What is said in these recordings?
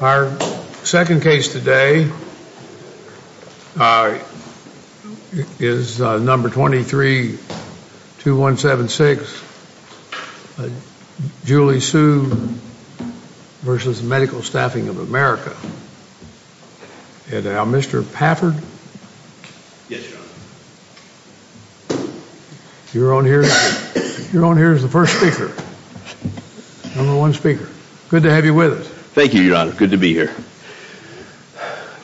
Our second case today is number 232176, Julie Su v. Medical Staffing of America. Mr. Pafford, you're on here as the first speaker, number one speaker. Good to have you with us. Thank you, Your Honor. Good to be here.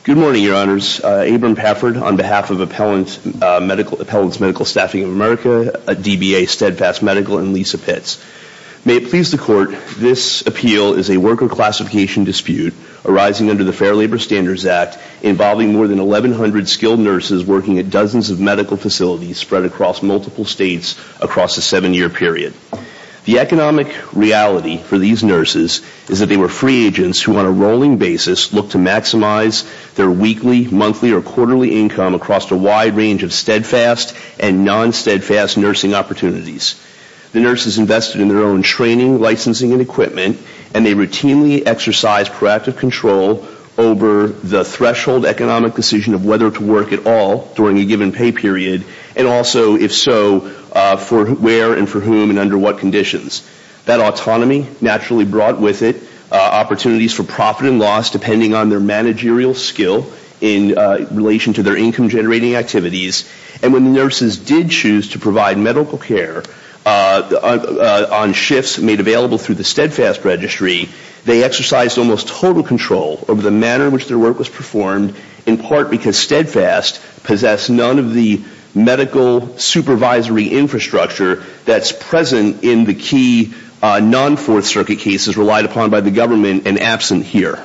Good morning, Your Honors. Abram Pafford on behalf of Appellants Medical Staffing of America, DBA, Steadfast Medical, and Lisa Pitts. May it please the Court, this appeal is a worker classification dispute arising under the Fair Labor Standards Act involving more than 1,100 skilled nurses working at dozens of medical facilities spread across multiple states across a seven-year period. The economic reality for these nurses is that they were free agents who on a rolling basis looked to maximize their weekly, monthly, or quarterly income across a wide range of steadfast and non-steadfast nursing opportunities. The nurses invested in their own training, licensing, and equipment, and they routinely exercised proactive control over the threshold economic decision of whether to work at all during a given pay period, and also, if so, for where and for whom and under what conditions. That autonomy naturally brought with it opportunities for profit and loss depending on their managerial skill in relation to their income-generating activities. And when the nurses did choose to provide medical care on shifts made available through the steadfast registry, they exercised almost total control over the manner in which their steadfast possessed none of the medical supervisory infrastructure that's present in the key non-Fourth Circuit cases relied upon by the government and absent here.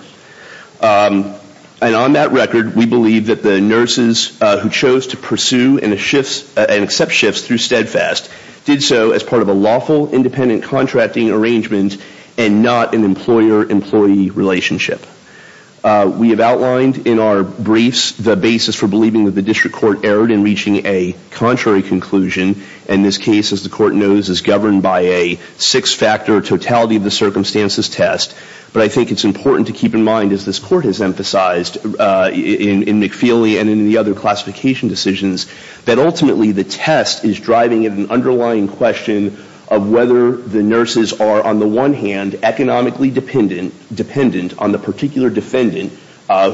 And on that record, we believe that the nurses who chose to pursue and accept shifts through steadfast did so as part of a lawful, independent contracting arrangement and not an employer-employee relationship. We have outlined in our briefs the basis for believing that the district court erred in reaching a contrary conclusion, and this case, as the court knows, is governed by a six-factor totality of the circumstances test. But I think it's important to keep in mind, as this court has emphasized in McFeely and in the other classification decisions, that ultimately the test is driving an underlying question of whether the nurses are on the one hand economically dependent on the particular defendant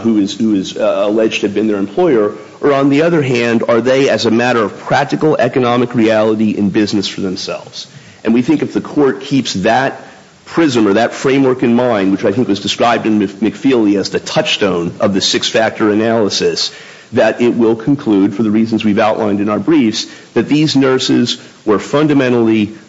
who is alleged to have been their employer, or on the other hand, are they as a matter of practical economic reality in business for themselves. And we think if the court keeps that prism or that framework in mind, which I think was described in McFeely as the touchstone of the six-factor analysis, that it will conclude, for the reasons we've outlined in our briefs, that these nurses were fundamentally free in being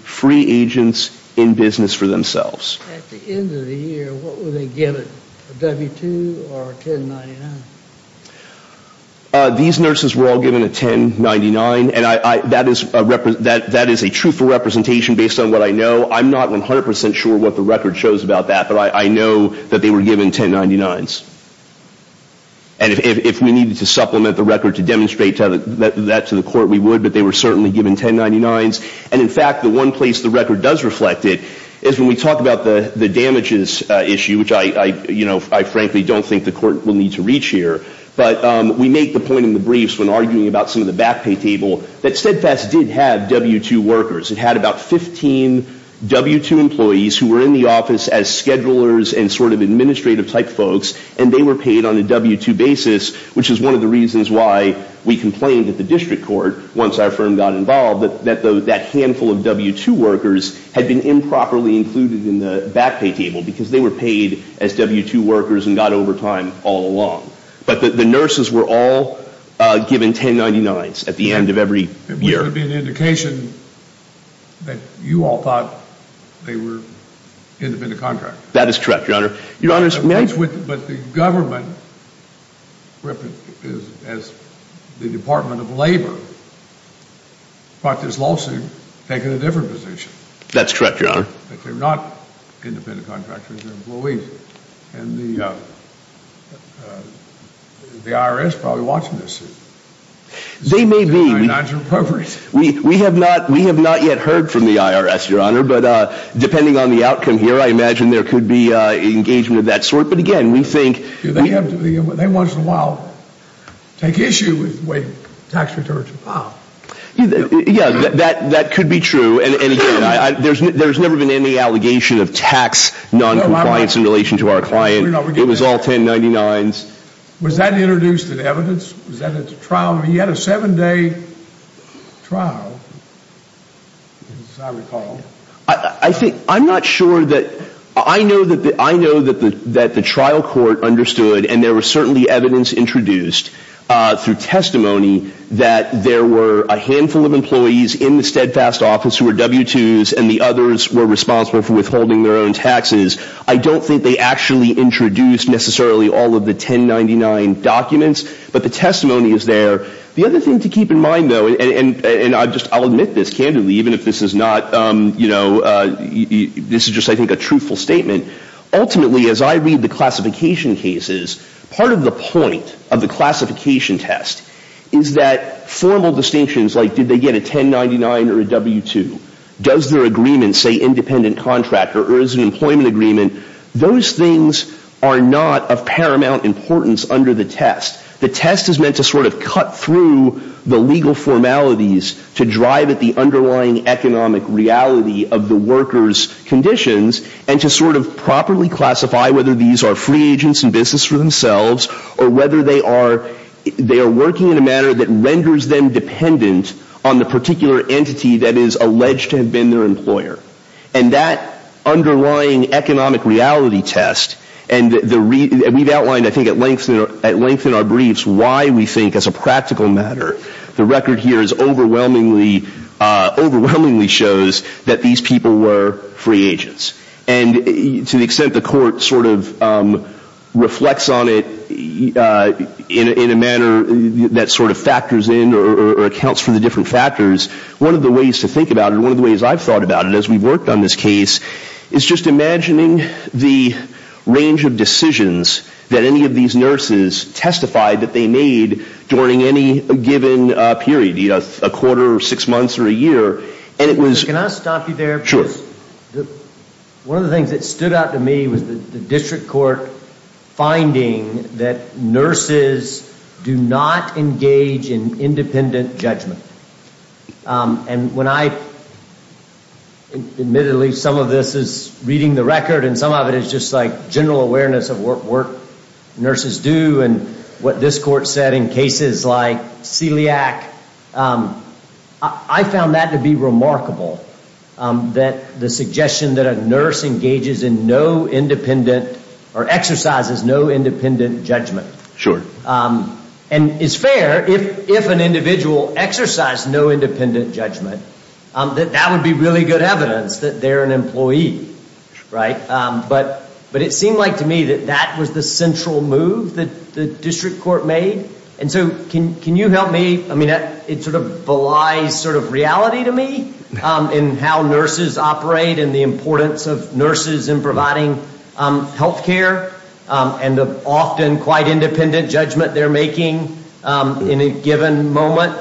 agents in business for themselves. At the end of the year, what would they give it, a W-2 or a 1099? These nurses were all given a 1099, and that is a truthful representation based on what I know. I'm not 100% sure what the record shows about that, but I know that they were given 1099s. And if we needed to supplement the record to demonstrate that to the court, we would, but they were certainly given 1099s. And in fact, the one place the record does reflect it is when we talk about the damages issue, which I frankly don't think the court will need to reach here. But we make the point in the briefs when arguing about some of the back pay table that Steadfast did have W-2 workers. It had about 15 W-2 employees who were in the office as schedulers and sort of administrative type folks, and they were paid on a W-2 basis, which is one of the reasons why we complained at the district court once our firm got involved that that handful of W-2 workers had been improperly included in the back pay table, because they were paid as W-2 workers and got overtime all along. But the nurses were all given 1099s at the end of every year. It would be an indication that you all thought they were independent contractors. That is correct, Your Honor. But the government, as the Department of Labor, brought this lawsuit, taking a different position. That's correct, Your Honor. That they're not independent contractors, they're employees. And the IRS probably watching this. They may be. 1099s are appropriate. We have not yet heard from the IRS, Your Honor. But depending on the outcome here, I imagine there could be engagement of that sort. But again, we think... They once in a while take issue with the way tax returns are filed. Yeah, that could be true. And again, there's never been any allegation of tax noncompliance in relation to our client. It was all 1099s. Was that introduced in evidence? Was that at the trial? He had a seven-day trial, as I recall. I'm not sure that... I know that the trial court understood, and there was certainly evidence introduced through testimony, that there were a handful of employees in the steadfast office who were W-2s and the others were responsible for withholding their own taxes. I don't think they actually introduced necessarily all of the 1099 documents. But the testimony is there. The other thing to keep in mind, though, and I'll admit this candidly, even if this is not, you know, this is just, I think, a truthful statement. Ultimately, as I read the classification cases, part of the point of the classification test is that formal distinctions like did they get a 1099 or a W-2, does their agreement say independent contractor or is it an employment agreement, those things are not of paramount importance under the test. The test is meant to sort of cut through the legal formalities to drive at the underlying economic reality of the workers' conditions and to sort of properly classify whether these are free agents in business for themselves or whether they are working in a manner that renders them dependent on the particular entity that is alleged to have been their employer. And that underlying economic reality test, and we've outlined, I think, at length in our briefs why we think as a practical matter the record here overwhelmingly shows that these people were free agents. And to the extent the Court sort of reflects on it in a manner that sort of factors in or accounts for the different factors, one of the ways to think about it, or one of the ways I've thought about it as we've worked on this case, is just imagining the range of decisions that any of these nurses testified that they made during any given period, a quarter, six months, or a year. Can I stop you there? Sure. One of the things that stood out to me was the District Court finding that nurses do not engage in independent judgment. And when I, admittedly, some of this is reading the record and some of it is just like general awareness of what nurses do and what this Court said in cases like Celiac, I found that to be remarkable, that the suggestion that a nurse engages in no independent, or exercises no independent judgment. Sure. And it's fair, if an individual exercised no independent judgment, that that would be really good evidence that they're an employee, right? But it seemed like to me that that was the central move that the District Court made. And so can you help me, I mean, it sort of belies sort of reality to me in how nurses operate and the importance of nurses in providing health care and the often quite independent judgment they're making in a given moment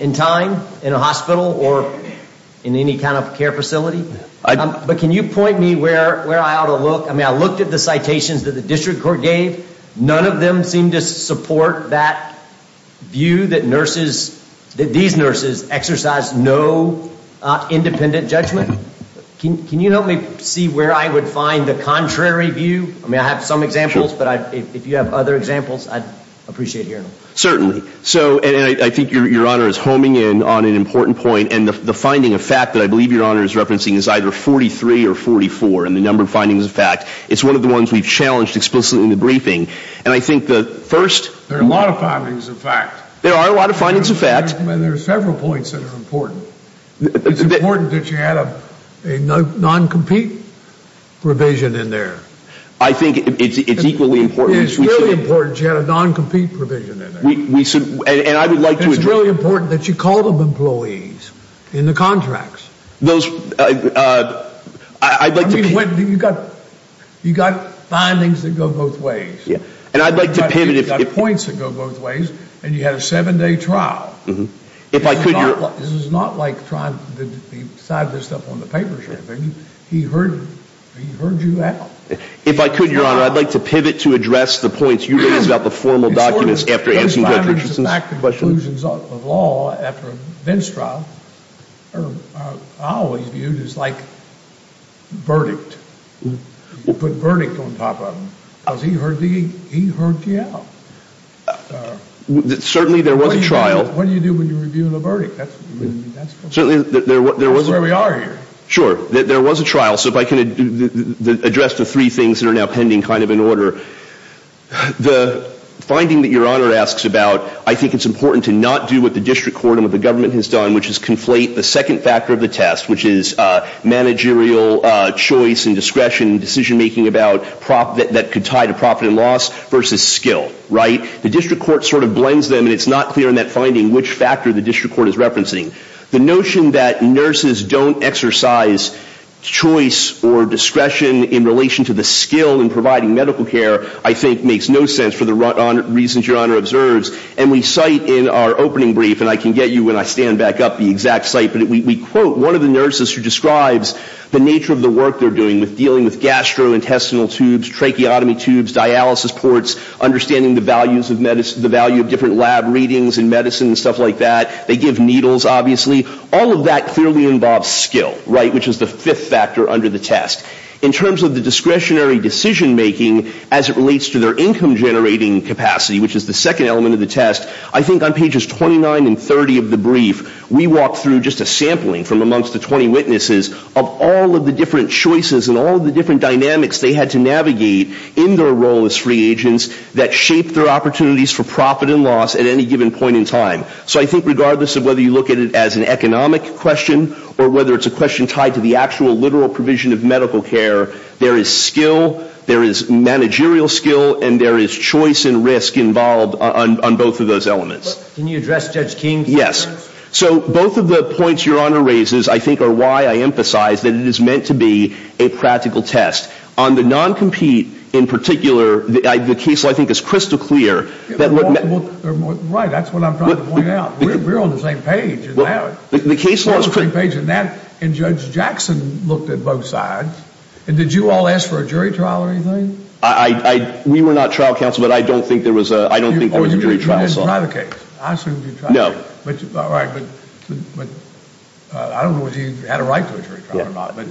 in time, in a hospital or in any kind of care facility. But can you point me where I ought to look? I mean, I looked at the citations that the District Court gave. None of them seemed to support that view that nurses, that these nurses exercise no independent judgment. Can you help me see where I would find the contrary view? I mean, I have some examples, but if you have other examples, I'd appreciate hearing them. Certainly. So, and I think Your Honor is homing in on an important point, and the finding of fact that I believe Your Honor is referencing is either 43 or 44 in the number of findings of fact. It's one of the ones we've challenged explicitly in the briefing. And I think the first — There are a lot of findings of fact. There are a lot of findings of fact. And there are several points that are important. It's important that you add a non-compete provision in there. I think it's equally important. It's really important that you add a non-compete provision in there. And I would like to address — It's really important that you call them employees in the contracts. Those — I'd like to — I mean, you've got findings that go both ways. And I'd like to pivot if — You've got points that go both ways. And you had a seven-day trial. If I could, Your Honor — This is not like trying to sign this up on the paper or anything. He heard you. He heard you out. If I could, Your Honor, I'd like to pivot to address the points you raised about the formal documents after answering Judge Richardson's questions. Those findings of fact conclusions of law after a bench trial are always viewed as, like, verdict. Put verdict on top of them. Because he heard you out. Certainly there was a trial. What do you do when you're reviewing a verdict? That's where we are here. Sure. There was a trial. So if I can address the three things that are now pending kind of in order. The finding that Your Honor asks about, I think it's important to not do what the district court and what the government has done, which is conflate the second factor of the test, which is managerial choice and discretion, decision-making that could tie to profit and loss, versus skill. Right? The district court sort of blends them, and it's not clear in that finding which factor the district court is referencing. The notion that nurses don't exercise choice or discretion in relation to the skill in providing medical care, I think makes no sense for the reasons Your Honor observes. And we cite in our opening brief, and I can get you when I stand back up the exact cite, but we quote one of the nurses who describes the nature of the work they're doing with dealing with gastrointestinal tubes, tracheotomy tubes, dialysis ports, understanding the value of different lab readings in medicine and stuff like that. They give needles, obviously. All of that clearly involves skill, right, which is the fifth factor under the test. In terms of the discretionary decision-making as it relates to their income-generating capacity, which is the second element of the test, I think on pages 29 and 30 of the brief, we walk through just a sampling from amongst the 20 witnesses of all of the different choices and all of the different dynamics they had to navigate in their role as free agents that shaped their opportunities for profit and loss at any given point in time. So I think regardless of whether you look at it as an economic question or whether it's a question tied to the actual literal provision of medical care, there is skill, there is managerial skill, and there is choice and risk involved on both of those elements. Can you address Judge King's concerns? Yes. So both of the points Your Honor raises I think are why I emphasize that it is meant to be a practical test. On the non-compete in particular, the case, I think, is crystal clear. Right, that's what I'm trying to point out. We're on the same page. We're on the same page, and Judge Jackson looked at both sides. Did you all ask for a jury trial or anything? We were not trial counsel, but I don't think there was a jury trial. This is not a case. No. All right, but I don't know if he had a right to a jury trial or not, but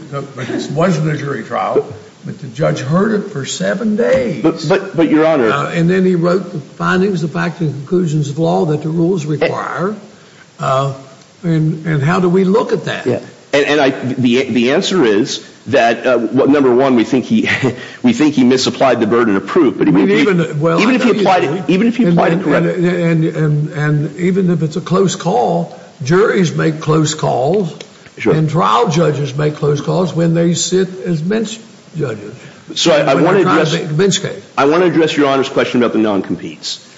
this wasn't a jury trial, but the judge heard it for seven days. But, Your Honor. And then he wrote the findings, the factual conclusions of law that the rules require, and how do we look at that? And the answer is that, number one, we think he misapplied the burden of proof, even if he applied it correctly. And even if it's a close call, juries make close calls, and trial judges make close calls when they sit as bench judges. So I want to address your Honor's question about the non-competes.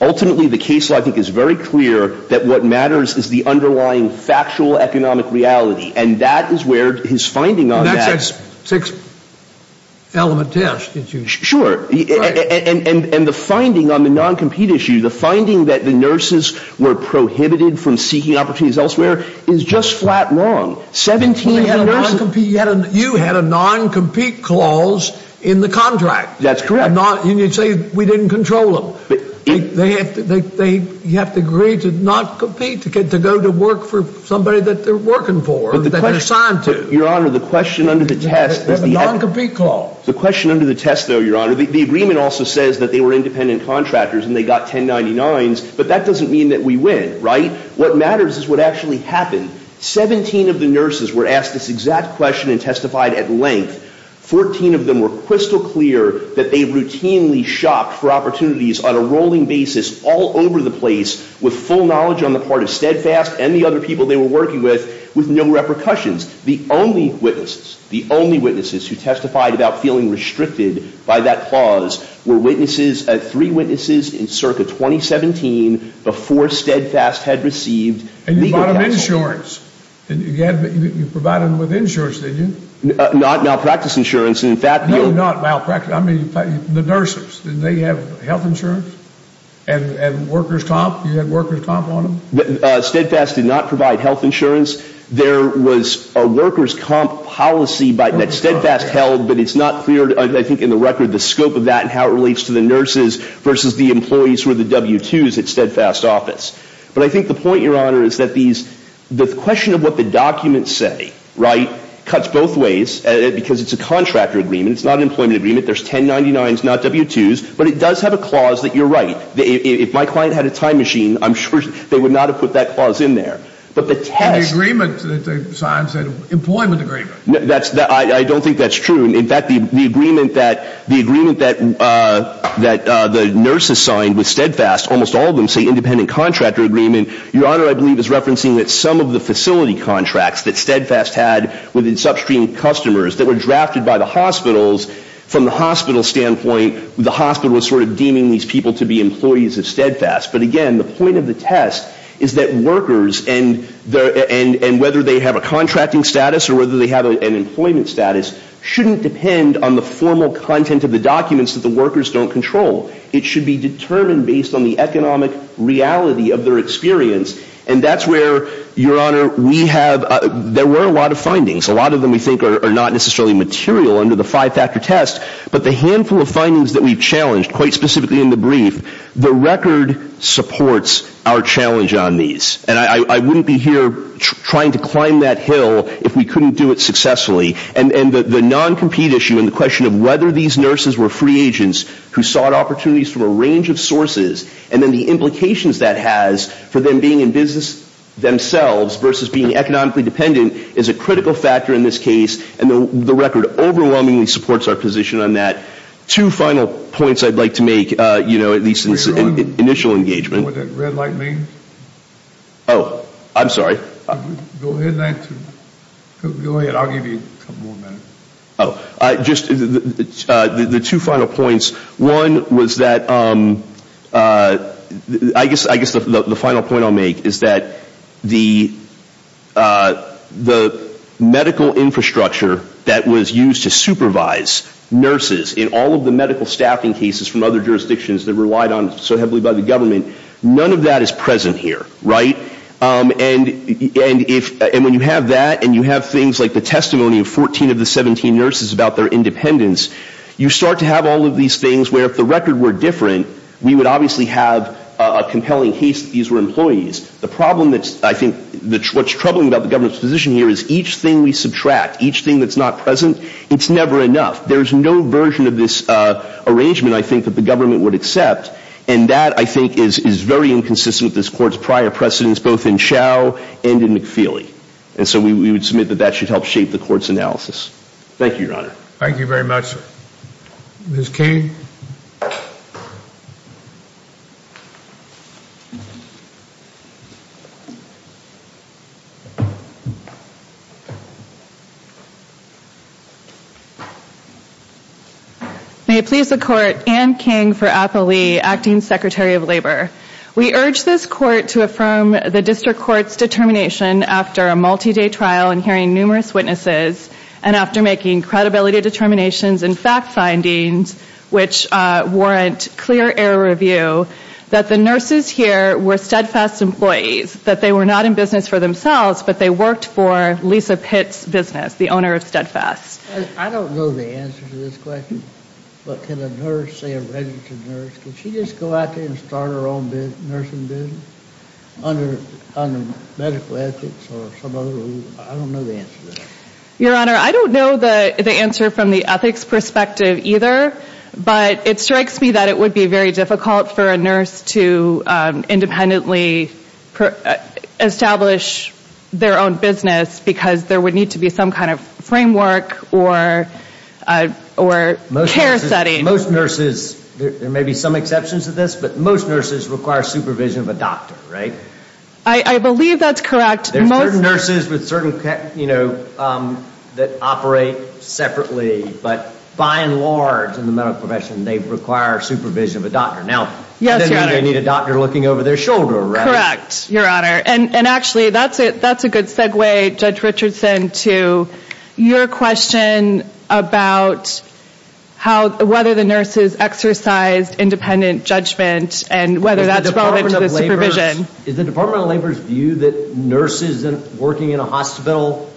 Ultimately, the case, I think, is very clear that what matters is the underlying factual economic reality, and that is where his finding on that. And that's that six-element test that you talked about. Sure. And the finding on the non-compete issue, the finding that the nurses were prohibited from seeking opportunities elsewhere, is just flat wrong. 17 nurses. You had a non-compete clause in the contract. That's correct. And you say we didn't control them. They have to agree to not compete, to go to work for somebody that they're working for, that they're assigned to. But, Your Honor, the question under the test. The non-compete clause. The question under the test, though, Your Honor, the agreement also says that they were independent contractors and they got 1099s, but that doesn't mean that we win, right? What matters is what actually happened. Seventeen of the nurses were asked this exact question and testified at length. Fourteen of them were crystal clear that they routinely shopped for opportunities on a rolling basis all over the place, with full knowledge on the part of Steadfast and the other people they were working with, with no repercussions. The only witnesses, the only witnesses who testified about feeling restricted by that clause were witnesses, three witnesses in circa 2017 before Steadfast had received legal counsel. And you bought them insurance. You provided them with insurance, didn't you? Not malpractice insurance. No, not malpractice. I mean, the nurses, didn't they have health insurance and workers' comp? You had workers' comp on them? Steadfast did not provide health insurance. There was a workers' comp policy that Steadfast held, but it's not clear, I think, in the record the scope of that and how it relates to the nurses versus the employees who are the W-2s at Steadfast's office. But I think the point, Your Honor, is that the question of what the documents say, right, cuts both ways because it's a contractor agreement. It's not an employment agreement. There's 1099s, not W-2s, but it does have a clause that you're right. If my client had a time machine, I'm sure they would not have put that clause in there. And the agreement that they signed said employment agreement. I don't think that's true. In fact, the agreement that the nurses signed with Steadfast, almost all of them say independent contractor agreement. Your Honor, I believe, is referencing that some of the facility contracts that Steadfast had with its upstream customers that were drafted by the hospitals, from the hospital standpoint, the hospital was sort of deeming these people to be employees of Steadfast. But again, the point of the test is that workers and whether they have a contracting status or whether they have an employment status shouldn't depend on the formal content of the documents that the workers don't control. It should be determined based on the economic reality of their experience. And that's where, Your Honor, we have – there were a lot of findings. A lot of them we think are not necessarily material under the five-factor test. But the handful of findings that we've challenged, quite specifically in the brief, the record supports our challenge on these. And I wouldn't be here trying to climb that hill if we couldn't do it successfully. And the non-compete issue and the question of whether these nurses were free agents who sought opportunities from a range of sources and then the implications that has for them being in business themselves versus being economically dependent is a critical factor in this case. And the record overwhelmingly supports our position on that. Two final points I'd like to make, you know, at least in initial engagement. Do you know what that red light means? Oh, I'm sorry. Go ahead, and I'll give you a couple more minutes. Oh, just the two final points. One was that – I guess the final point I'll make is that the medical infrastructure that was used to supervise nurses in all of the medical staffing cases from other jurisdictions that relied on so heavily by the government, none of that is present here, right? And when you have that and you have things like the testimony of 14 of the 17 nurses about their independence, you start to have all of these things where if the record were different, we would obviously have a compelling case that these were employees. The problem that's – I think what's troubling about the government's position here is each thing we subtract, each thing that's not present, it's never enough. There's no version of this arrangement, I think, that the government would accept. And that, I think, is very inconsistent with this Court's prior precedence both in Chau and in McFeely. And so we would submit that that should help shape the Court's analysis. Thank you, Your Honor. Thank you very much. Ms. King. May it please the Court, Anne King for Applee, Acting Secretary of Labor. We urge this Court to affirm the District Court's determination after a multi-day trial and hearing numerous witnesses and after making credibility determinations and fact findings, which warrant clear error review, that the nurses here were Steadfast employees, that they were not in business for themselves, but they worked for Lisa Pitts' business, the owner of Steadfast. I don't know the answer to this question, but can a nurse say a registered nurse? Can she just go out there and start her own nursing business under medical ethics or some other rule? I don't know the answer to that. Your Honor, I don't know the answer from the ethics perspective either, but it strikes me that it would be very difficult for a nurse to independently establish their own business because there would need to be some kind of framework or care setting. Most nurses, there may be some exceptions to this, but most nurses require supervision of a doctor, right? I believe that's correct. There's certain nurses that operate separately, but by and large in the medical profession, they require supervision of a doctor. Now, that doesn't mean they need a doctor looking over their shoulder, right? Correct, Your Honor. Actually, that's a good segue, Judge Richardson, to your question about whether the nurses exercise independent judgment and whether that's relevant to the supervision. Does the Department of Labor view that nurses working in a hospital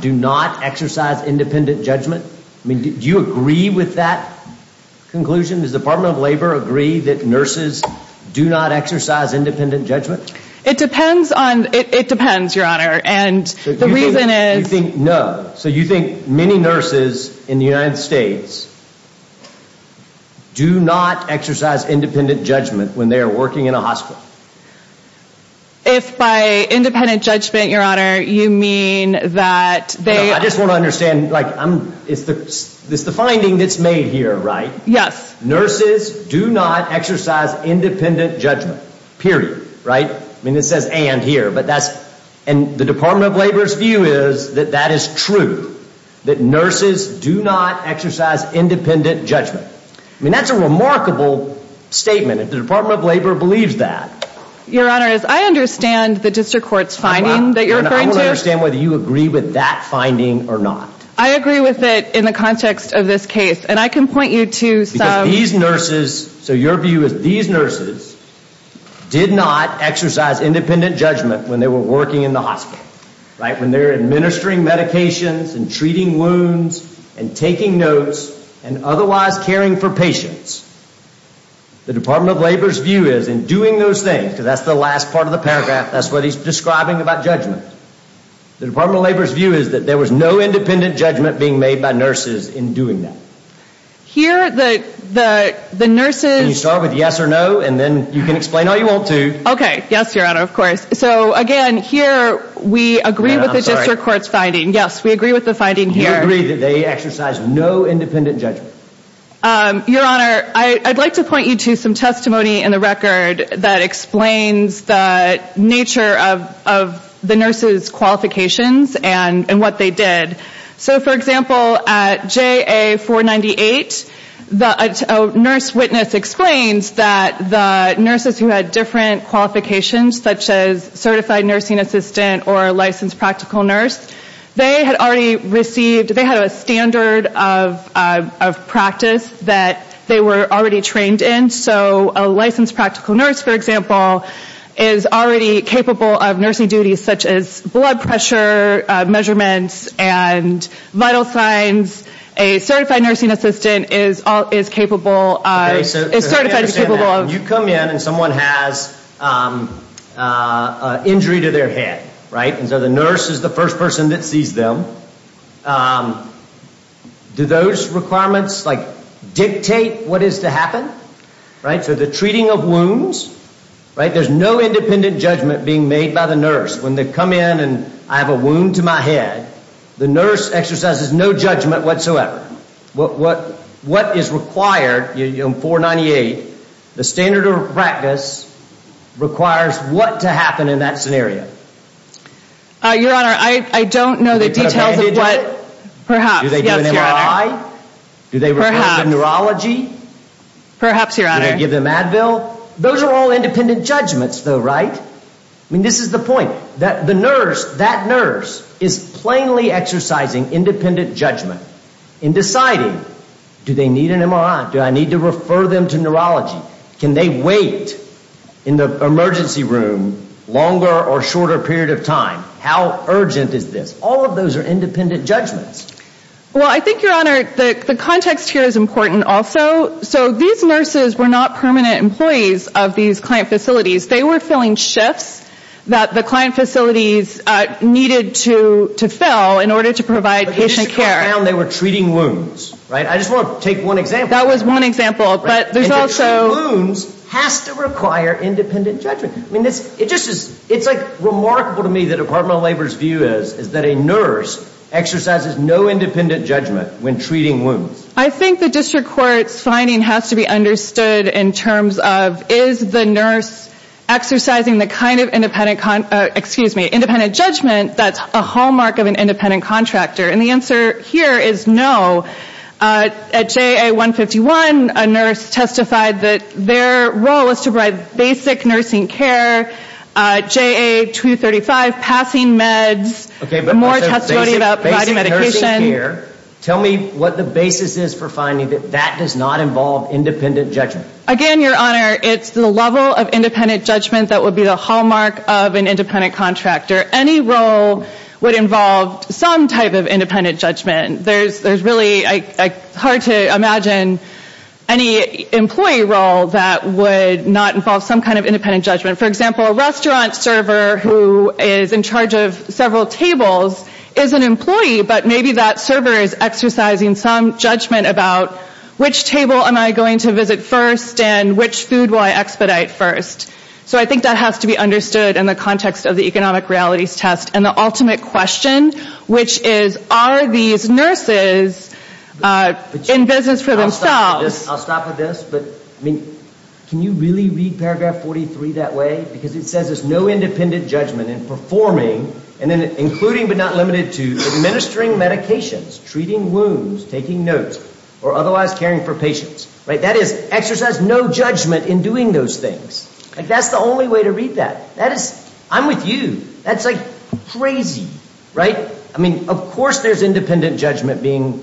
do not exercise independent judgment? Do you agree with that conclusion? Does the Department of Labor agree that nurses do not exercise independent judgment? It depends, Your Honor, and the reason is... No. So you think many nurses in the United States do not exercise independent judgment when they are working in a hospital? If by independent judgment, Your Honor, you mean that they... I just want to understand. It's the finding that's made here, right? Yes. Nurses do not exercise independent judgment, period, right? I mean, it says and here, but that's... And the Department of Labor's view is that that is true, that nurses do not exercise independent judgment. I mean, that's a remarkable statement if the Department of Labor believes that. Your Honor, as I understand the district court's finding that you're referring to... I want to understand whether you agree with that finding or not. I agree with it in the context of this case, and I can point you to some... Because these nurses, so your view is these nurses did not exercise independent judgment when they were working in the hospital, right? When they're administering medications and treating wounds and taking notes and otherwise caring for patients. The Department of Labor's view is in doing those things, because that's the last part of the paragraph, that's what he's describing about judgment. The Department of Labor's view is that there was no independent judgment being made by nurses in doing that. Here, the nurses... Can you start with yes or no, and then you can explain all you want to. Okay. Yes, Your Honor, of course. So, again, here we agree with the district court's finding. Yes, we agree with the finding here. You agree that they exercise no independent judgment. Your Honor, I'd like to point you to some testimony in the record that explains the nature of the nurses' qualifications and what they did. So, for example, at JA-498, a nurse witness explains that the nurses who had different qualifications, such as certified nursing assistant or licensed practical nurse, they had already received, they had a standard of practice that they were already trained in. So a licensed practical nurse, for example, is already capable of nursing duties such as blood pressure measurements and vital signs. A certified nursing assistant is capable of... Okay, so I understand that. You come in and someone has an injury to their head, right? And so the nurse is the first person that sees them. Do those requirements, like, dictate what is to happen? Right? So the treating of wounds, right? There's no independent judgment being made by the nurse. When they come in and I have a wound to my head, the nurse exercises no judgment whatsoever. Your Honor, what is required in 498, the standard of practice requires what to happen in that scenario? Your Honor, I don't know the details of what perhaps... Do they do an MRI? Perhaps. Do they require neurology? Perhaps, Your Honor. Do they give them Advil? Those are all independent judgments, though, right? I mean, this is the point. That nurse is plainly exercising independent judgment in deciding, do they need an MRI? Do I need to refer them to neurology? Can they wait in the emergency room longer or shorter period of time? How urgent is this? All of those are independent judgments. Well, I think, Your Honor, the context here is important also. So these nurses were not permanent employees of these client facilities. They were filling shifts that the client facilities needed to fill in order to provide patient care. But the district court found they were treating wounds, right? I just want to take one example. That was one example, but there's also... And to treat wounds has to require independent judgment. I mean, it's remarkable to me that the Department of Labor's view is that a nurse exercises no independent judgment when treating wounds. I think the district court's finding has to be understood in terms of, is the nurse exercising the kind of independent judgment that's a hallmark of an independent contractor? And the answer here is no. At JA-151, a nurse testified that their role was to provide basic nursing care. JA-235, passing meds, more testimony about providing medication. Tell me what the basis is for finding that that does not involve independent judgment. Again, Your Honor, it's the level of independent judgment that would be the hallmark of an independent contractor. Any role would involve some type of independent judgment. There's really hard to imagine any employee role that would not involve some kind of independent judgment. For example, a restaurant server who is in charge of several tables is an employee, but maybe that server is exercising some judgment about which table am I going to visit first and which food will I expedite first. So I think that has to be understood in the context of the economic realities test. And the ultimate question, which is, are these nurses in business for themselves? I'll stop with this, but can you really read paragraph 43 that way? Because it says there's no independent judgment in performing, including but not limited to, administering medications, treating wounds, taking notes, or otherwise caring for patients. That is, exercise no judgment in doing those things. That's the only way to read that. I'm with you. That's crazy. Of course there's independent judgment being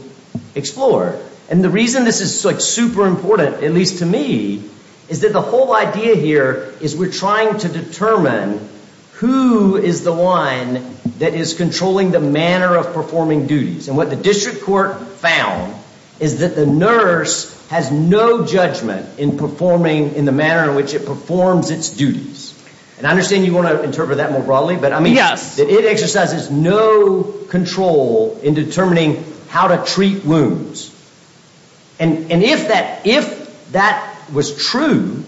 explored. And the reason this is super important, at least to me, is that the whole idea here is we're trying to determine who is the one that is controlling the manner of performing duties. And what the district court found is that the nurse has no judgment in performing in the manner in which it performs its duties. And I understand you want to interpret that more broadly, but it exercises no control in determining how to treat wounds. And if that was true,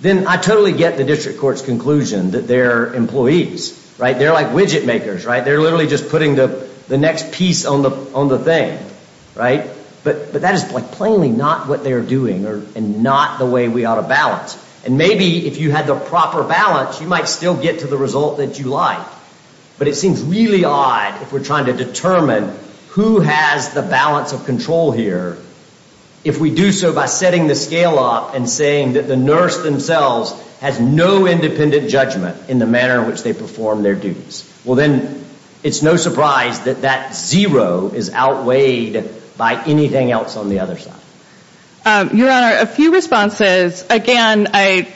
then I totally get the district court's conclusion that they're employees. They're like widget makers. They're literally just putting the next piece on the thing. But that is plainly not what they're doing and not the way we ought to balance. And maybe if you had the proper balance, you might still get to the result that you like. But it seems really odd if we're trying to determine who has the balance of control here if we do so by setting the scale up and saying that the nurse themselves has no independent judgment in the manner in which they perform their duties. Well, then it's no surprise that that zero is outweighed by anything else on the other side. Your Honor, a few responses. Again, I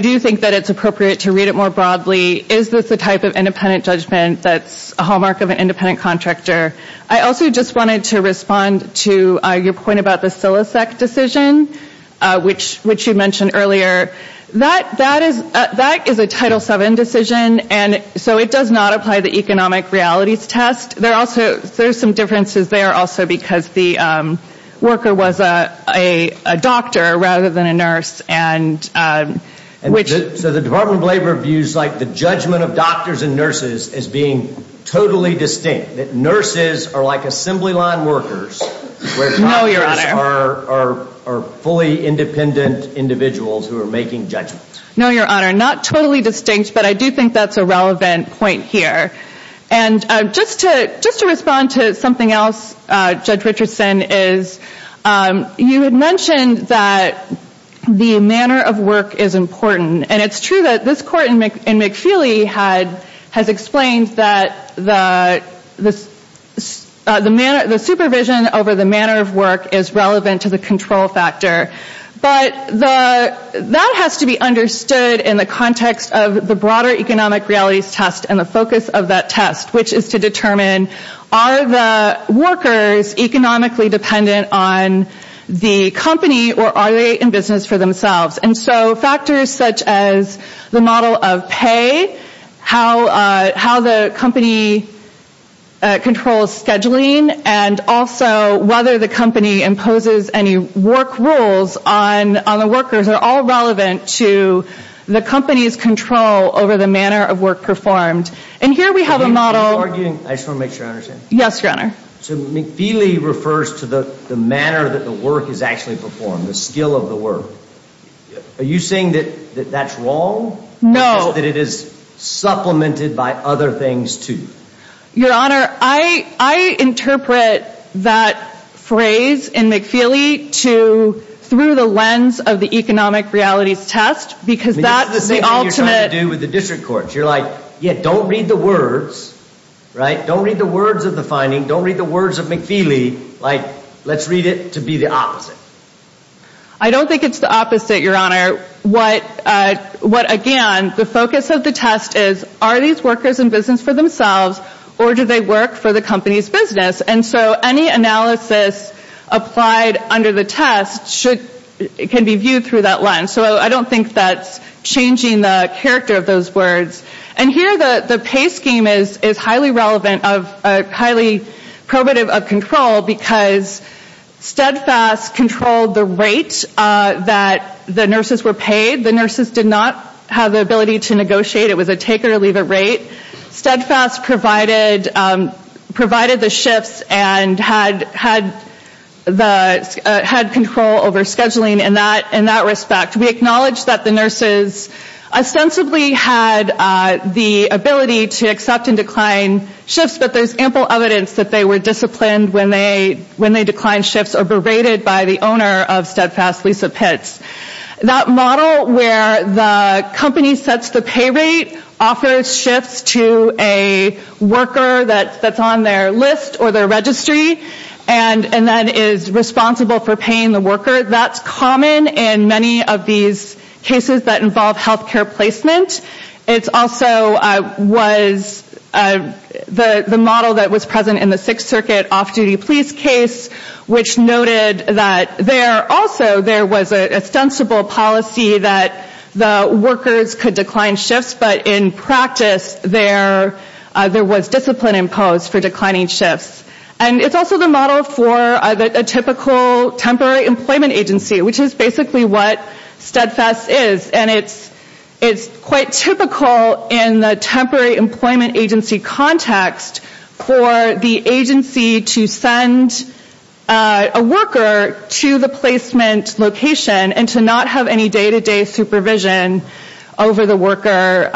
do think that it's appropriate to read it more broadly. Is this the type of independent judgment that's a hallmark of an independent contractor? I also just wanted to respond to your point about the Silosec decision, which you mentioned earlier. That is a Title VII decision, and so it does not apply the economic realities test. There are some differences there also because the worker was a doctor rather than a nurse. So the Department of Labor views the judgment of doctors and nurses as being totally distinct, that nurses are like assembly line workers, where contractors are fully independent individuals who are making judgments. No, Your Honor, not totally distinct, but I do think that's a relevant point here. And just to respond to something else, Judge Richardson, is you had mentioned that the manner of work is important. And it's true that this court in McFeely has explained that the supervision over the manner of work is relevant to the control factor. But that has to be understood in the context of the broader economic realities test and the focus of that test, which is to determine are the workers economically dependent on the company or are they in business for themselves? And so factors such as the model of pay, how the company controls scheduling, and also whether the company imposes any work rules on the workers are all relevant to the company's control over the manner of work performed. And here we have a model— Are you arguing—I just want to make sure I understand. Yes, Your Honor. So McFeely refers to the manner that the work is actually performed, the skill of the work. Are you saying that that's wrong? No. Or that it is supplemented by other things, too? Your Honor, I interpret that phrase in McFeely to—through the lens of the economic realities test, because that's the ultimate— I don't read the words of McFeely like let's read it to be the opposite. I don't think it's the opposite, Your Honor. What—again, the focus of the test is are these workers in business for themselves or do they work for the company's business? And so any analysis applied under the test should—can be viewed through that lens. So I don't think that's changing the character of those words. And here the pay scheme is highly relevant of—highly probative of control because Steadfast controlled the rate that the nurses were paid. The nurses did not have the ability to negotiate. It was a take or leave a rate. Steadfast provided the shifts and had control over scheduling in that respect. We acknowledge that the nurses ostensibly had the ability to accept and decline shifts, but there's ample evidence that they were disciplined when they declined shifts or berated by the owner of Steadfast, Lisa Pitts. That model where the company sets the pay rate, offers shifts to a worker that's on their list or their registry, and then is responsible for paying the worker, that's common in many of these cases that involve health care placement. It's also was—the model that was present in the Sixth Circuit off-duty police case, which noted that there—also there was an ostensible policy that the workers could decline shifts, but in practice there was discipline imposed for declining shifts. And it's also the model for a typical temporary employment agency, which is basically what Steadfast is. And it's quite typical in the temporary employment agency context for the agency to send a worker to the placement location and to not have any day-to-day supervision over the worker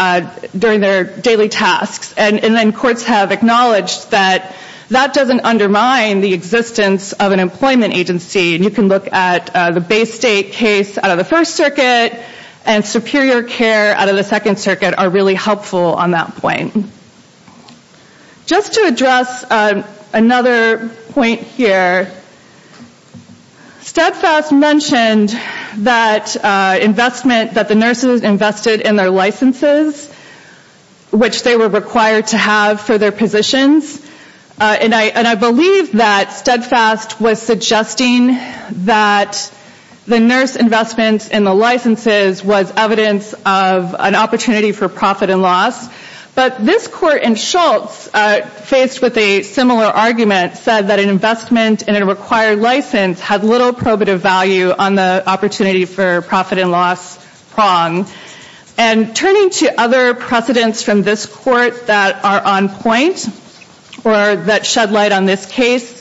during their daily tasks. And then courts have acknowledged that that doesn't undermine the existence of an employment agency, and you can look at the Bay State case out of the First Circuit, and superior care out of the Second Circuit are really helpful on that point. Just to address another point here, Steadfast mentioned that investment that the nurses invested in their licenses, which they were required to have for their positions, and I believe that Steadfast was suggesting that the nurse investments in the licenses was evidence of an opportunity for profit and loss. But this court in Schultz, faced with a similar argument, said that an investment in a required license had little probative value on the opportunity for profit and loss prong. And turning to other precedents from this court that are on point, or that shed light on this case,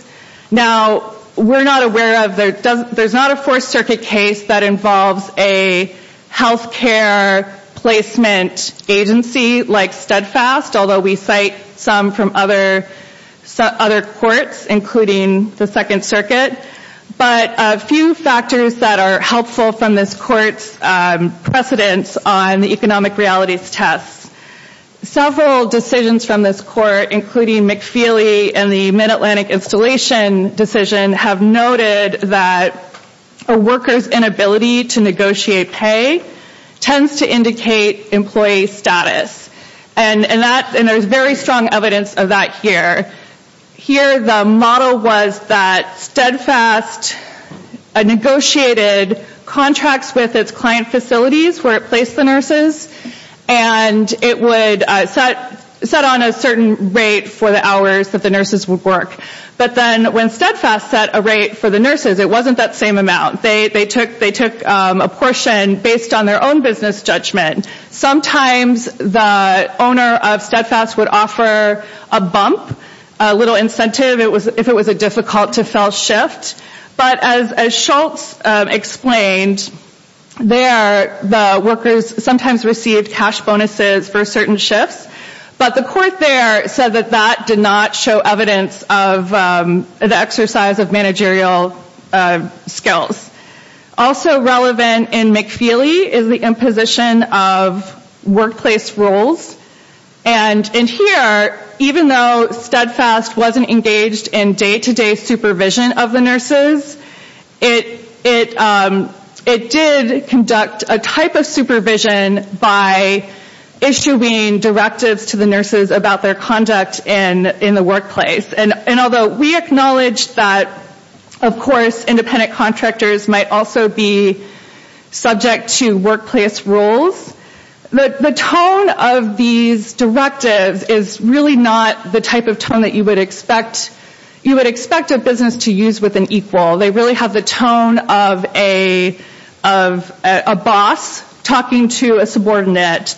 now, we're not aware of, there's not a Fourth Circuit case that involves a health care placement agency like Steadfast, although we cite some from other courts, including the Second Circuit. But a few factors that are helpful from this court's precedents on the economic realities test. Several decisions from this court, including McFeely and the Mid-Atlantic Installation decision, have noted that a worker's inability to negotiate pay tends to indicate employee status. And there's very strong evidence of that here. Here, the model was that Steadfast negotiated contracts with its client facilities where it placed the nurses, and it would set on a certain rate for the hours that the nurses would work. But then when Steadfast set a rate for the nurses, it wasn't that same amount. They took a portion based on their own business judgment. Sometimes the owner of Steadfast would offer a bump, a little incentive if it was a difficult-to-fill shift. But as Schultz explained, there, the workers sometimes received cash bonuses for certain shifts. But the court there said that that did not show evidence of the exercise of managerial skills. Also relevant in McFeely is the imposition of workplace rules. And in here, even though Steadfast wasn't engaged in day-to-day supervision of the nurses, it did conduct a type of supervision by issuing directives to the nurses about their conduct in the workplace. And although we acknowledge that, of course, independent contractors might also be subject to workplace rules, the tone of these directives is really not the type of tone that you would expect a business to use with an equal. They really have the tone of a boss talking to a subordinate.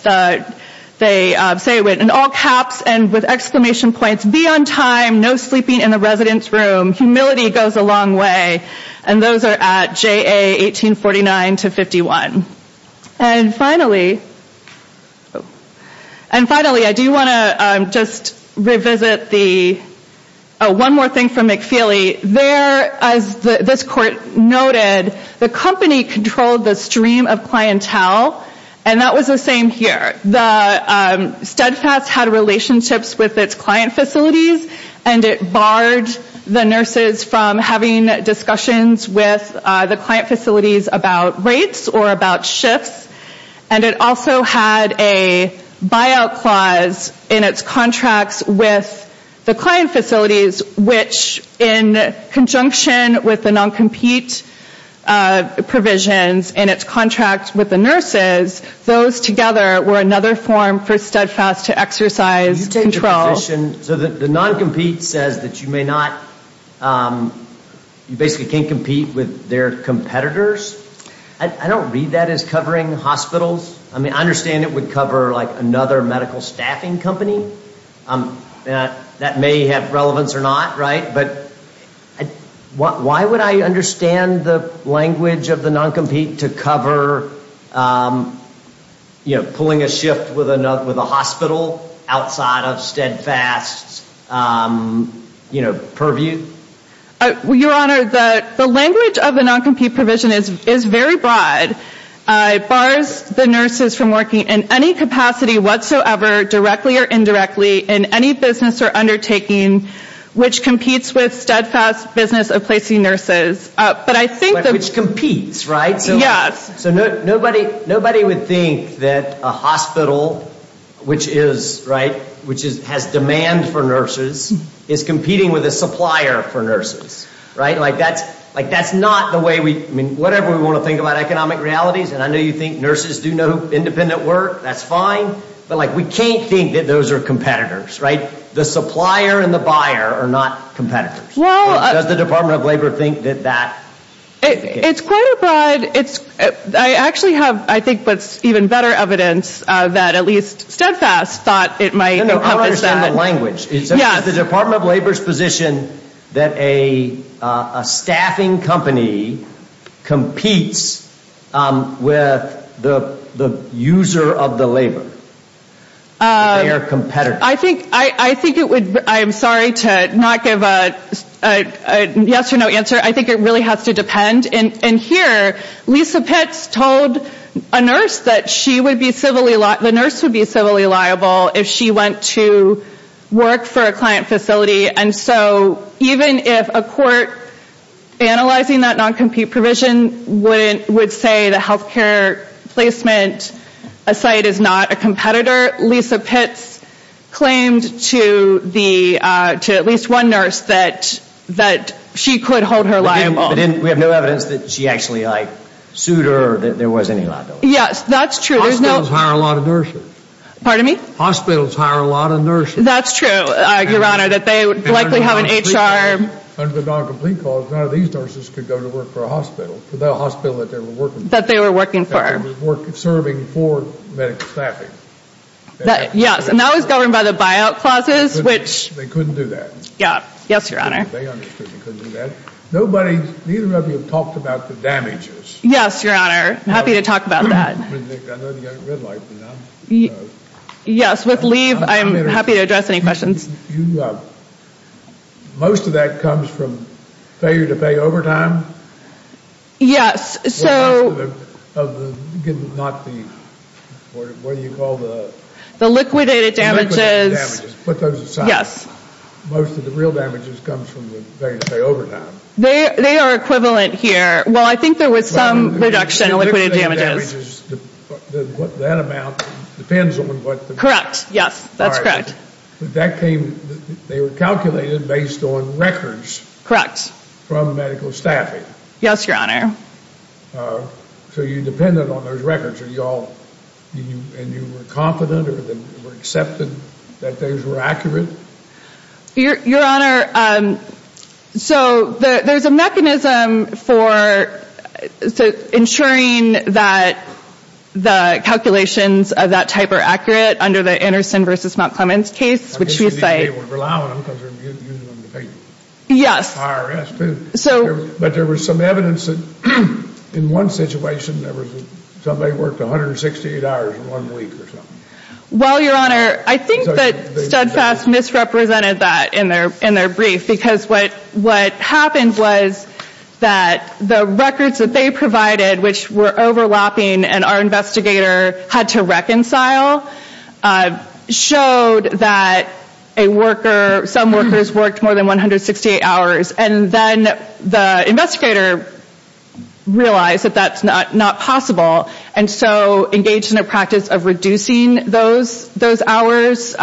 They say it in all caps and with exclamation points, BE ON TIME, NO SLEEPING IN THE RESIDENCE ROOM, HUMILITY GOES A LONG WAY. And those are at JA 1849-51. And finally, I do want to just revisit the one more thing from McFeely. There, as this court noted, the company controlled the stream of clientele, and that was the same here. Steadfast had relationships with its client facilities, and it barred the nurses from having discussions with the client facilities about rates or about shifts. And it also had a buyout clause in its contracts with the client facilities, which in conjunction with the non-compete provisions in its contract with the nurses, those together were another form for Steadfast to exercise control. So the non-compete says that you basically can't compete with their competitors? I don't read that as covering hospitals. I mean, I understand it would cover another medical staffing company. That may have relevance or not, right? But why would I understand the language of the non-compete to cover, you know, pulling a shift with a hospital outside of Steadfast's, you know, purview? Your Honor, the language of the non-compete provision is very broad. It bars the nurses from working in any capacity whatsoever, directly or indirectly, in any business or undertaking which competes with Steadfast's business of placing nurses. Which competes, right? Yes. So nobody would think that a hospital which has demand for nurses is competing with a supplier for nurses, right? That's not the way we, I mean, whatever we want to think about economic realities, and I know you think nurses do no independent work, that's fine, but we can't think that those are competitors, right? The supplier and the buyer are not competitors. Does the Department of Labor think that that? It's quite a broad, it's, I actually have, I think, what's even better evidence that at least Steadfast thought it might encompass that. I don't understand the language. Yes. Is the Department of Labor's position that a staffing company competes with the user of the labor? They are competitors. I think it would, I'm sorry to not give a yes or no answer, I think it really has to depend. And here, Lisa Pitts told a nurse that she would be civilly, the nurse would be civilly liable if she went to work for a client facility, and so even if a court analyzing that non-compete provision would say that healthcare placement site is not a competitor, Lisa Pitts claimed to at least one nurse that she could hold her liable. We have no evidence that she actually sued her or that there was any liability. Yes, that's true. Hospitals hire a lot of nurses. Pardon me? Hospitals hire a lot of nurses. That's true, Your Honor, that they likely have an HR. Under the non-complete clause, none of these nurses could go to work for a hospital, for the hospital that they were working for. That they were working for. That they were serving for medical staffing. Yes, and that was governed by the buyout clauses, which. They couldn't do that. Yes, Your Honor. They understood they couldn't do that. Neither of you have talked about the damages. Yes, Your Honor. I'm happy to talk about that. Yes, with leave, I'm happy to address any questions. Most of that comes from failure to pay overtime? Yes, so. The liquidated damages. Put those aside. Yes. Most of the real damages comes from the failure to pay overtime. They are equivalent here. Well, I think there was some reduction in liquidated damages. What that amount depends on what the. Correct, yes, that's correct. That came, they were calculated based on records. From medical staffing. Yes, Your Honor. So you depended on those records. Are you all, and you were confident, or you were accepting that those were accurate? Your Honor, so there's a mechanism for ensuring that the calculations of that type are accurate under the Anderson v. Mount Clemens case. I guess you need to be able to rely on them because you're using them to pay IRS too. Yes, so. But there was some evidence that in one situation, somebody worked 168 hours in one week or something. Well, Your Honor, I think that Steadfast misrepresented that in their brief. Because what happened was that the records that they provided, which were overlapping and our investigator had to reconcile, showed that a worker, some workers worked more than 168 hours. And then the investigator realized that that's not possible. And so engaged in a practice of reducing those hours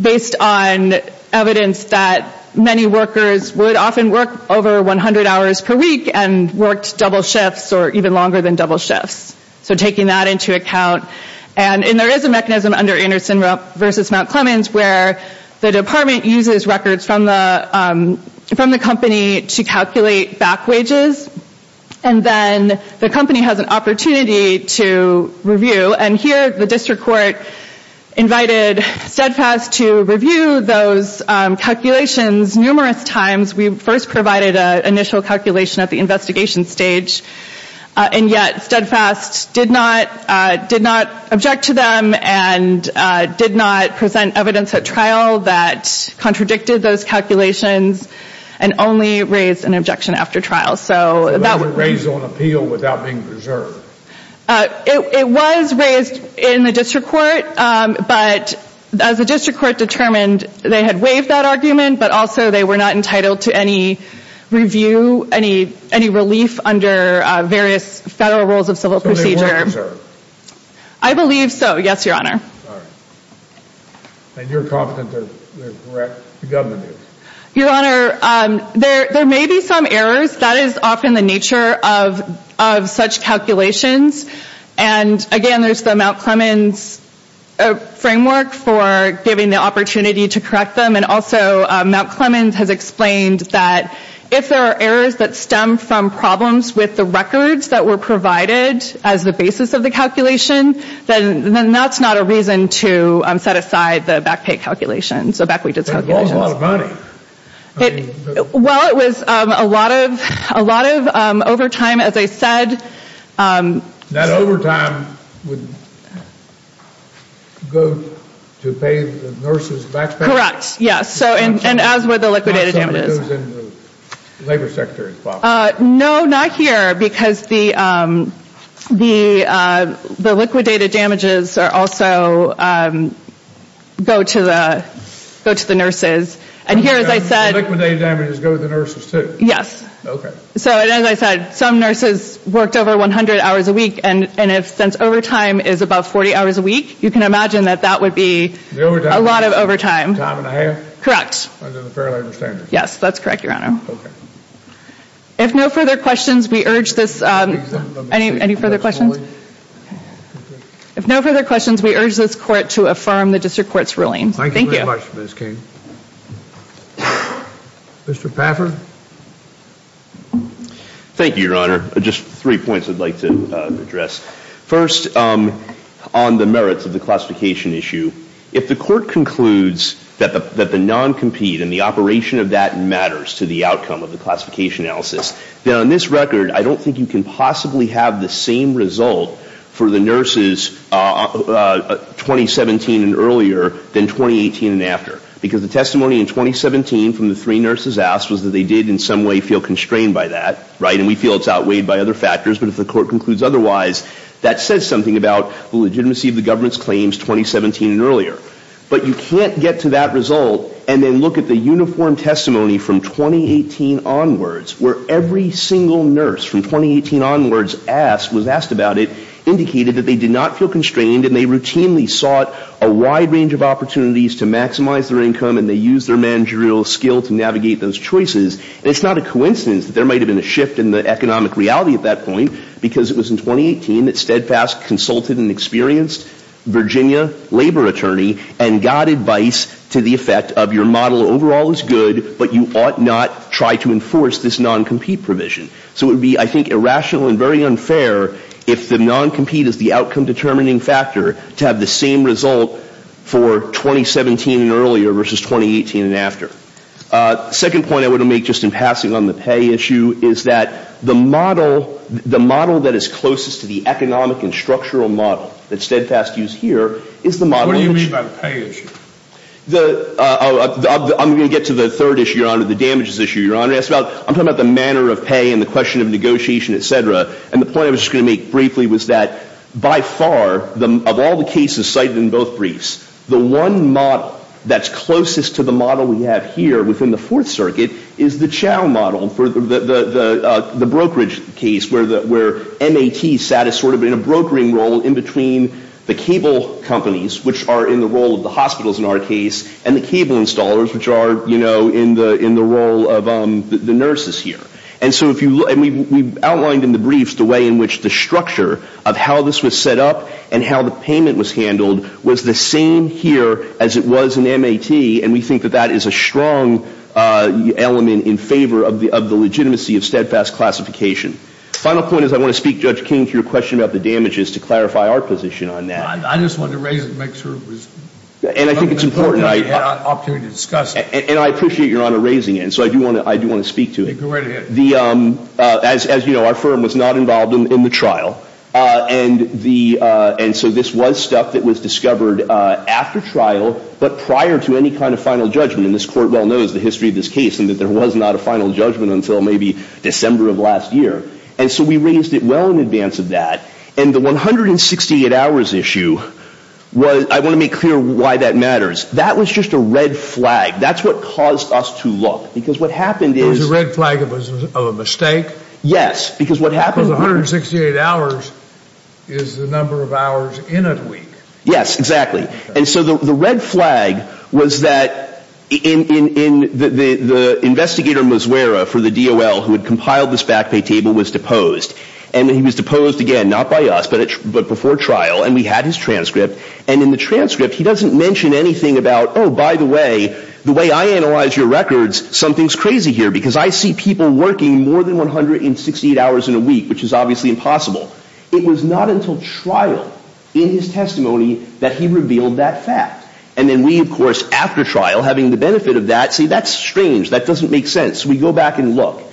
based on evidence that many workers would often work over 100 hours per week and worked double shifts or even longer than double shifts. So taking that into account. And there is a mechanism under Anderson v. Mount Clemens where the department uses records from the company to calculate back wages. And then the company has an opportunity to review. And here the district court invited Steadfast to review those calculations numerous times. We first provided an initial calculation at the investigation stage. And yet Steadfast did not object to them and did not present evidence at trial that contradicted those calculations and only raised an objection after trial. So that was raised on appeal without being preserved. It was raised in the district court, but as the district court determined, they had waived that argument, but also they were not entitled to any review, any relief under various federal rules of civil procedure. So they weren't preserved? I believe so, yes, Your Honor. All right. And you're confident they're correct, the government is? Your Honor, there may be some errors. That is often the nature of such calculations. And, again, there's the Mount Clemens framework for giving the opportunity to correct them. And also Mount Clemens has explained that if there are errors that stem from problems with the records that were provided as the basis of the calculation, then that's not a reason to set aside the back pay calculations, so back wages calculations. But it was a lot of money. Well, it was a lot of overtime, as I said. That overtime would go to pay the nurses' back pay? Correct, yes, and as would the liquidated damages. So it goes in the labor sector as well? No, not here, because the liquidated damages also go to the nurses. And here, as I said. The liquidated damages go to the nurses, too? Yes. Okay. So, as I said, some nurses worked over 100 hours a week, and since overtime is about 40 hours a week, you can imagine that that would be a lot of overtime. Time and a half? Correct. Under the fair labor standards? Yes, that's correct, Your Honor. Okay. If no further questions, we urge this court to affirm the district court's ruling. Thank you. Thank you very much, Ms. King. Mr. Paffer? Thank you, Your Honor. Just three points I'd like to address. First, on the merits of the classification issue, if the court concludes that the non-compete and the operation of that matters to the outcome of the classification analysis, then on this record, I don't think you can possibly have the same result for the nurses 2017 and earlier than 2018 and after. Because the testimony in 2017 from the three nurses asked was that they did in some way feel constrained by that, right? And we feel it's outweighed by other factors. But if the court concludes otherwise, that says something about the legitimacy of the government's claims 2017 and earlier. But you can't get to that result and then look at the uniform testimony from 2018 onwards, where every single nurse from 2018 onwards was asked about it, indicated that they did not feel constrained and they routinely sought a wide range of opportunities to maximize their income and they used their managerial skill to navigate those choices. And it's not a coincidence that there might have been a shift in the economic reality at that point because it was in 2018 that Steadfast consulted an experienced Virginia labor attorney and got advice to the effect of your model overall is good, but you ought not try to enforce this non-compete provision. So it would be, I think, irrational and very unfair if the non-compete is the outcome determining factor to have the same result for 2017 and earlier versus 2018 and after. Second point I want to make just in passing on the pay issue is that the model, the model that is closest to the economic and structural model that Steadfast used here is the model. What do you mean by pay issue? I'm going to get to the third issue, Your Honor, the damages issue, Your Honor. I'm talking about the manner of pay and the question of negotiation, et cetera. And the point I was just going to make briefly was that by far, of all the cases cited in both briefs, the one model that's closest to the model we have here within the Fourth Circuit is the Chow model for the brokerage case where MAT sat as sort of in a brokering role in between the cable companies, which are in the role of the hospitals in our case, and the cable installers, which are, you know, in the role of the nurses here. And so if you look, and we've outlined in the briefs the way in which the structure of how this was set up and how the payment was handled was the same here as it was in MAT, and we think that that is a strong element in favor of the legitimacy of Steadfast classification. The final point is I want to speak, Judge King, to your question about the damages to clarify our position on that. I just wanted to raise it to make sure it was – And I think it's important. I had an opportunity to discuss it. And I appreciate Your Honor raising it, and so I do want to speak to it. Go right ahead. As you know, our firm was not involved in the trial, and so this was stuff that was discovered after trial but prior to any kind of final judgment, and this Court well knows the history of this case and that there was not a final judgment until maybe December of last year. And so we raised it well in advance of that. And the 168 hours issue was – I want to make clear why that matters. That was just a red flag. That's what caused us to look, because what happened is – Because of a mistake? Yes, because what happened – Because 168 hours is the number of hours in a week. Yes, exactly. And so the red flag was that the investigator Mazuera for the DOL who had compiled this back pay table was deposed. And he was deposed again, not by us, but before trial, and we had his transcript. And in the transcript, he doesn't mention anything about, oh, by the way, the way I analyze your records, because I see people working more than 168 hours in a week, which is obviously impossible. It was not until trial in his testimony that he revealed that fact. And then we, of course, after trial, having the benefit of that, say, that's strange. That doesn't make sense. We go back and look.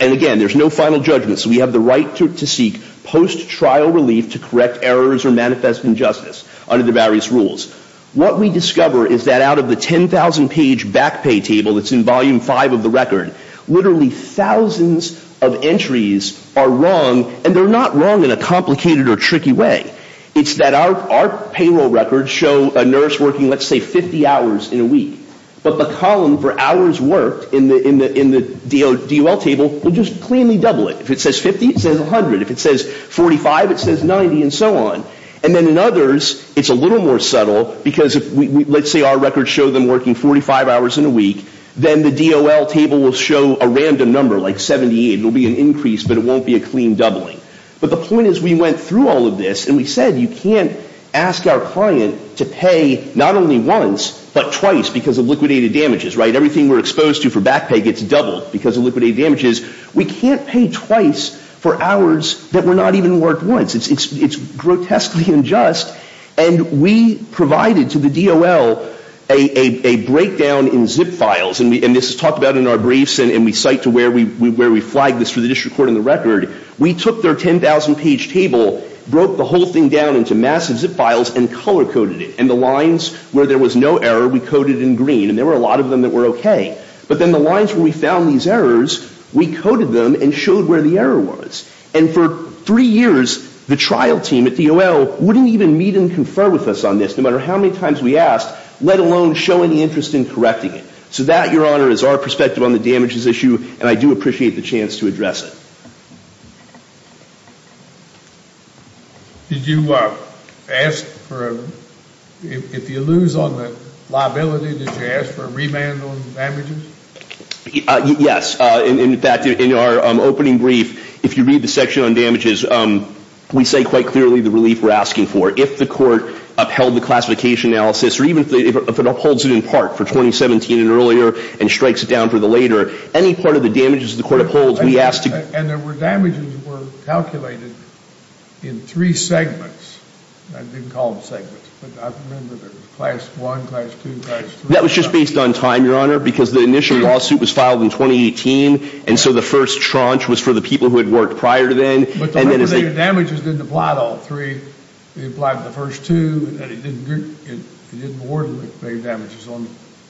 And again, there's no final judgment, so we have the right to seek post-trial relief to correct errors or manifest injustice under the various rules. What we discover is that out of the 10,000-page back pay table that's in Volume 5 of the record, literally thousands of entries are wrong, and they're not wrong in a complicated or tricky way. It's that our payroll records show a nurse working, let's say, 50 hours in a week, but the column for hours worked in the DOL table will just cleanly double it. If it says 50, it says 100. If it says 45, it says 90, and so on. And then in others, it's a little more subtle, because let's say our records show them working 45 hours in a week, then the DOL table will show a random number, like 78. It will be an increase, but it won't be a clean doubling. But the point is we went through all of this, and we said you can't ask our client to pay not only once, but twice because of liquidated damages, right? Everything we're exposed to for back pay gets doubled because of liquidated damages. We can't pay twice for hours that were not even worked once. It's grotesquely unjust, and we provided to the DOL a breakdown in zip files, and this is talked about in our briefs, and we cite to where we flagged this for the district court in the record. We took their 10,000-page table, broke the whole thing down into massive zip files, and color-coded it. And the lines where there was no error, we coded in green, and there were a lot of them that were okay. But then the lines where we found these errors, we coded them and showed where the error was. And for three years, the trial team at DOL wouldn't even meet and confer with us on this, no matter how many times we asked, let alone show any interest in correcting it. So that, Your Honor, is our perspective on the damages issue, and I do appreciate the chance to address it. Did you ask for a, if you lose on the liability, did you ask for a remand on the damages? Yes. In fact, in our opening brief, if you read the section on damages, we say quite clearly the relief we're asking for. If the court upheld the classification analysis, or even if it upholds it in part for 2017 and earlier and strikes it down for the later, any part of the damages the court upholds, we ask to And there were damages that were calculated in three segments. I didn't call them segments, but I remember there was class one, class two, class three. That was just based on time, Your Honor, because the initial lawsuit was filed in 2018, and so the first tranche was for the people who had worked prior to then. But the damages didn't apply to all three. It applied to the first two, and it didn't award the damages on the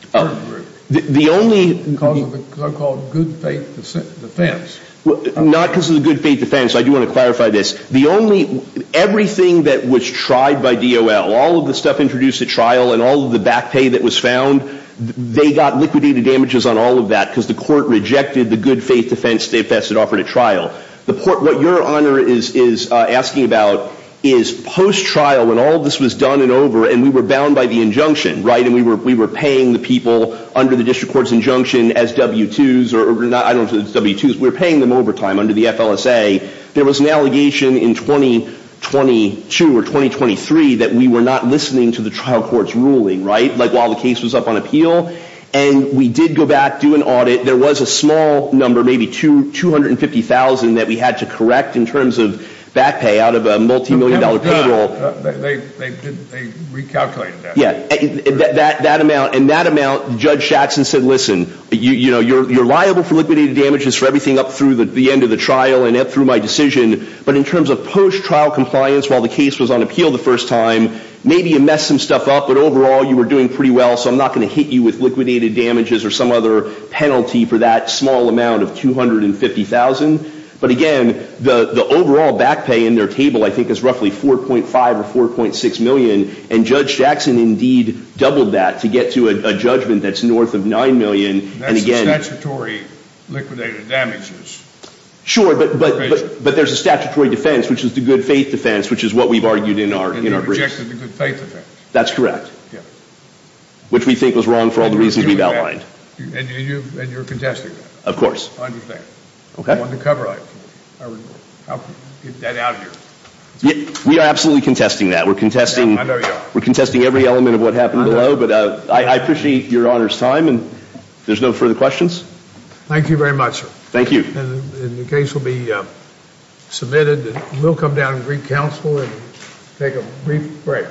third group. The only Because of the so-called good faith defense. Not because of the good faith defense. I do want to clarify this. The only, everything that was tried by DOL, all of the stuff introduced at trial and all of the back pay that was found, they got liquidated damages on all of that because the court rejected the good faith defense that was offered at trial. What Your Honor is asking about is post-trial when all of this was done and over and we were bound by the injunction, right? And we were paying the people under the district court's injunction as W-2s, or I don't know if it's W-2s. We were paying them overtime under the FLSA. There was an allegation in 2022 or 2023 that we were not listening to the trial court's ruling, right? Like while the case was up on appeal. And we did go back, do an audit. There was a small number, maybe 250,000 that we had to correct in terms of back pay out of a multimillion dollar payroll. They recalculated that. Yeah. That amount, and that amount, Judge Jackson said, listen, you're liable for liquidated damages for everything up through the end of the trial and up through my decision. But in terms of post-trial compliance while the case was on appeal the first time, maybe you messed some stuff up, but overall you were doing pretty well, so I'm not going to hit you with liquidated damages or some other penalty for that small amount of 250,000. But again, the overall back pay in their table I think is roughly 4.5 or 4.6 million, and Judge Jackson indeed doubled that to get to a judgment that's north of 9 million. That's the statutory liquidated damages. Sure, but there's a statutory defense, which is the good faith defense, which is what we've argued in our briefs. And you rejected the good faith defense. That's correct. Yeah. Which we think was wrong for all the reasons we've outlined. And you're contesting that. Of course. I understand. Okay. I wanted to cover it. I would help get that out of here. We are absolutely contesting that. I know you are. We're contesting every element of what happened below, but I appreciate your honor's time, and if there's no further questions. Thank you very much. Thank you. And the case will be submitted. We'll come down and greet counsel and take a brief break.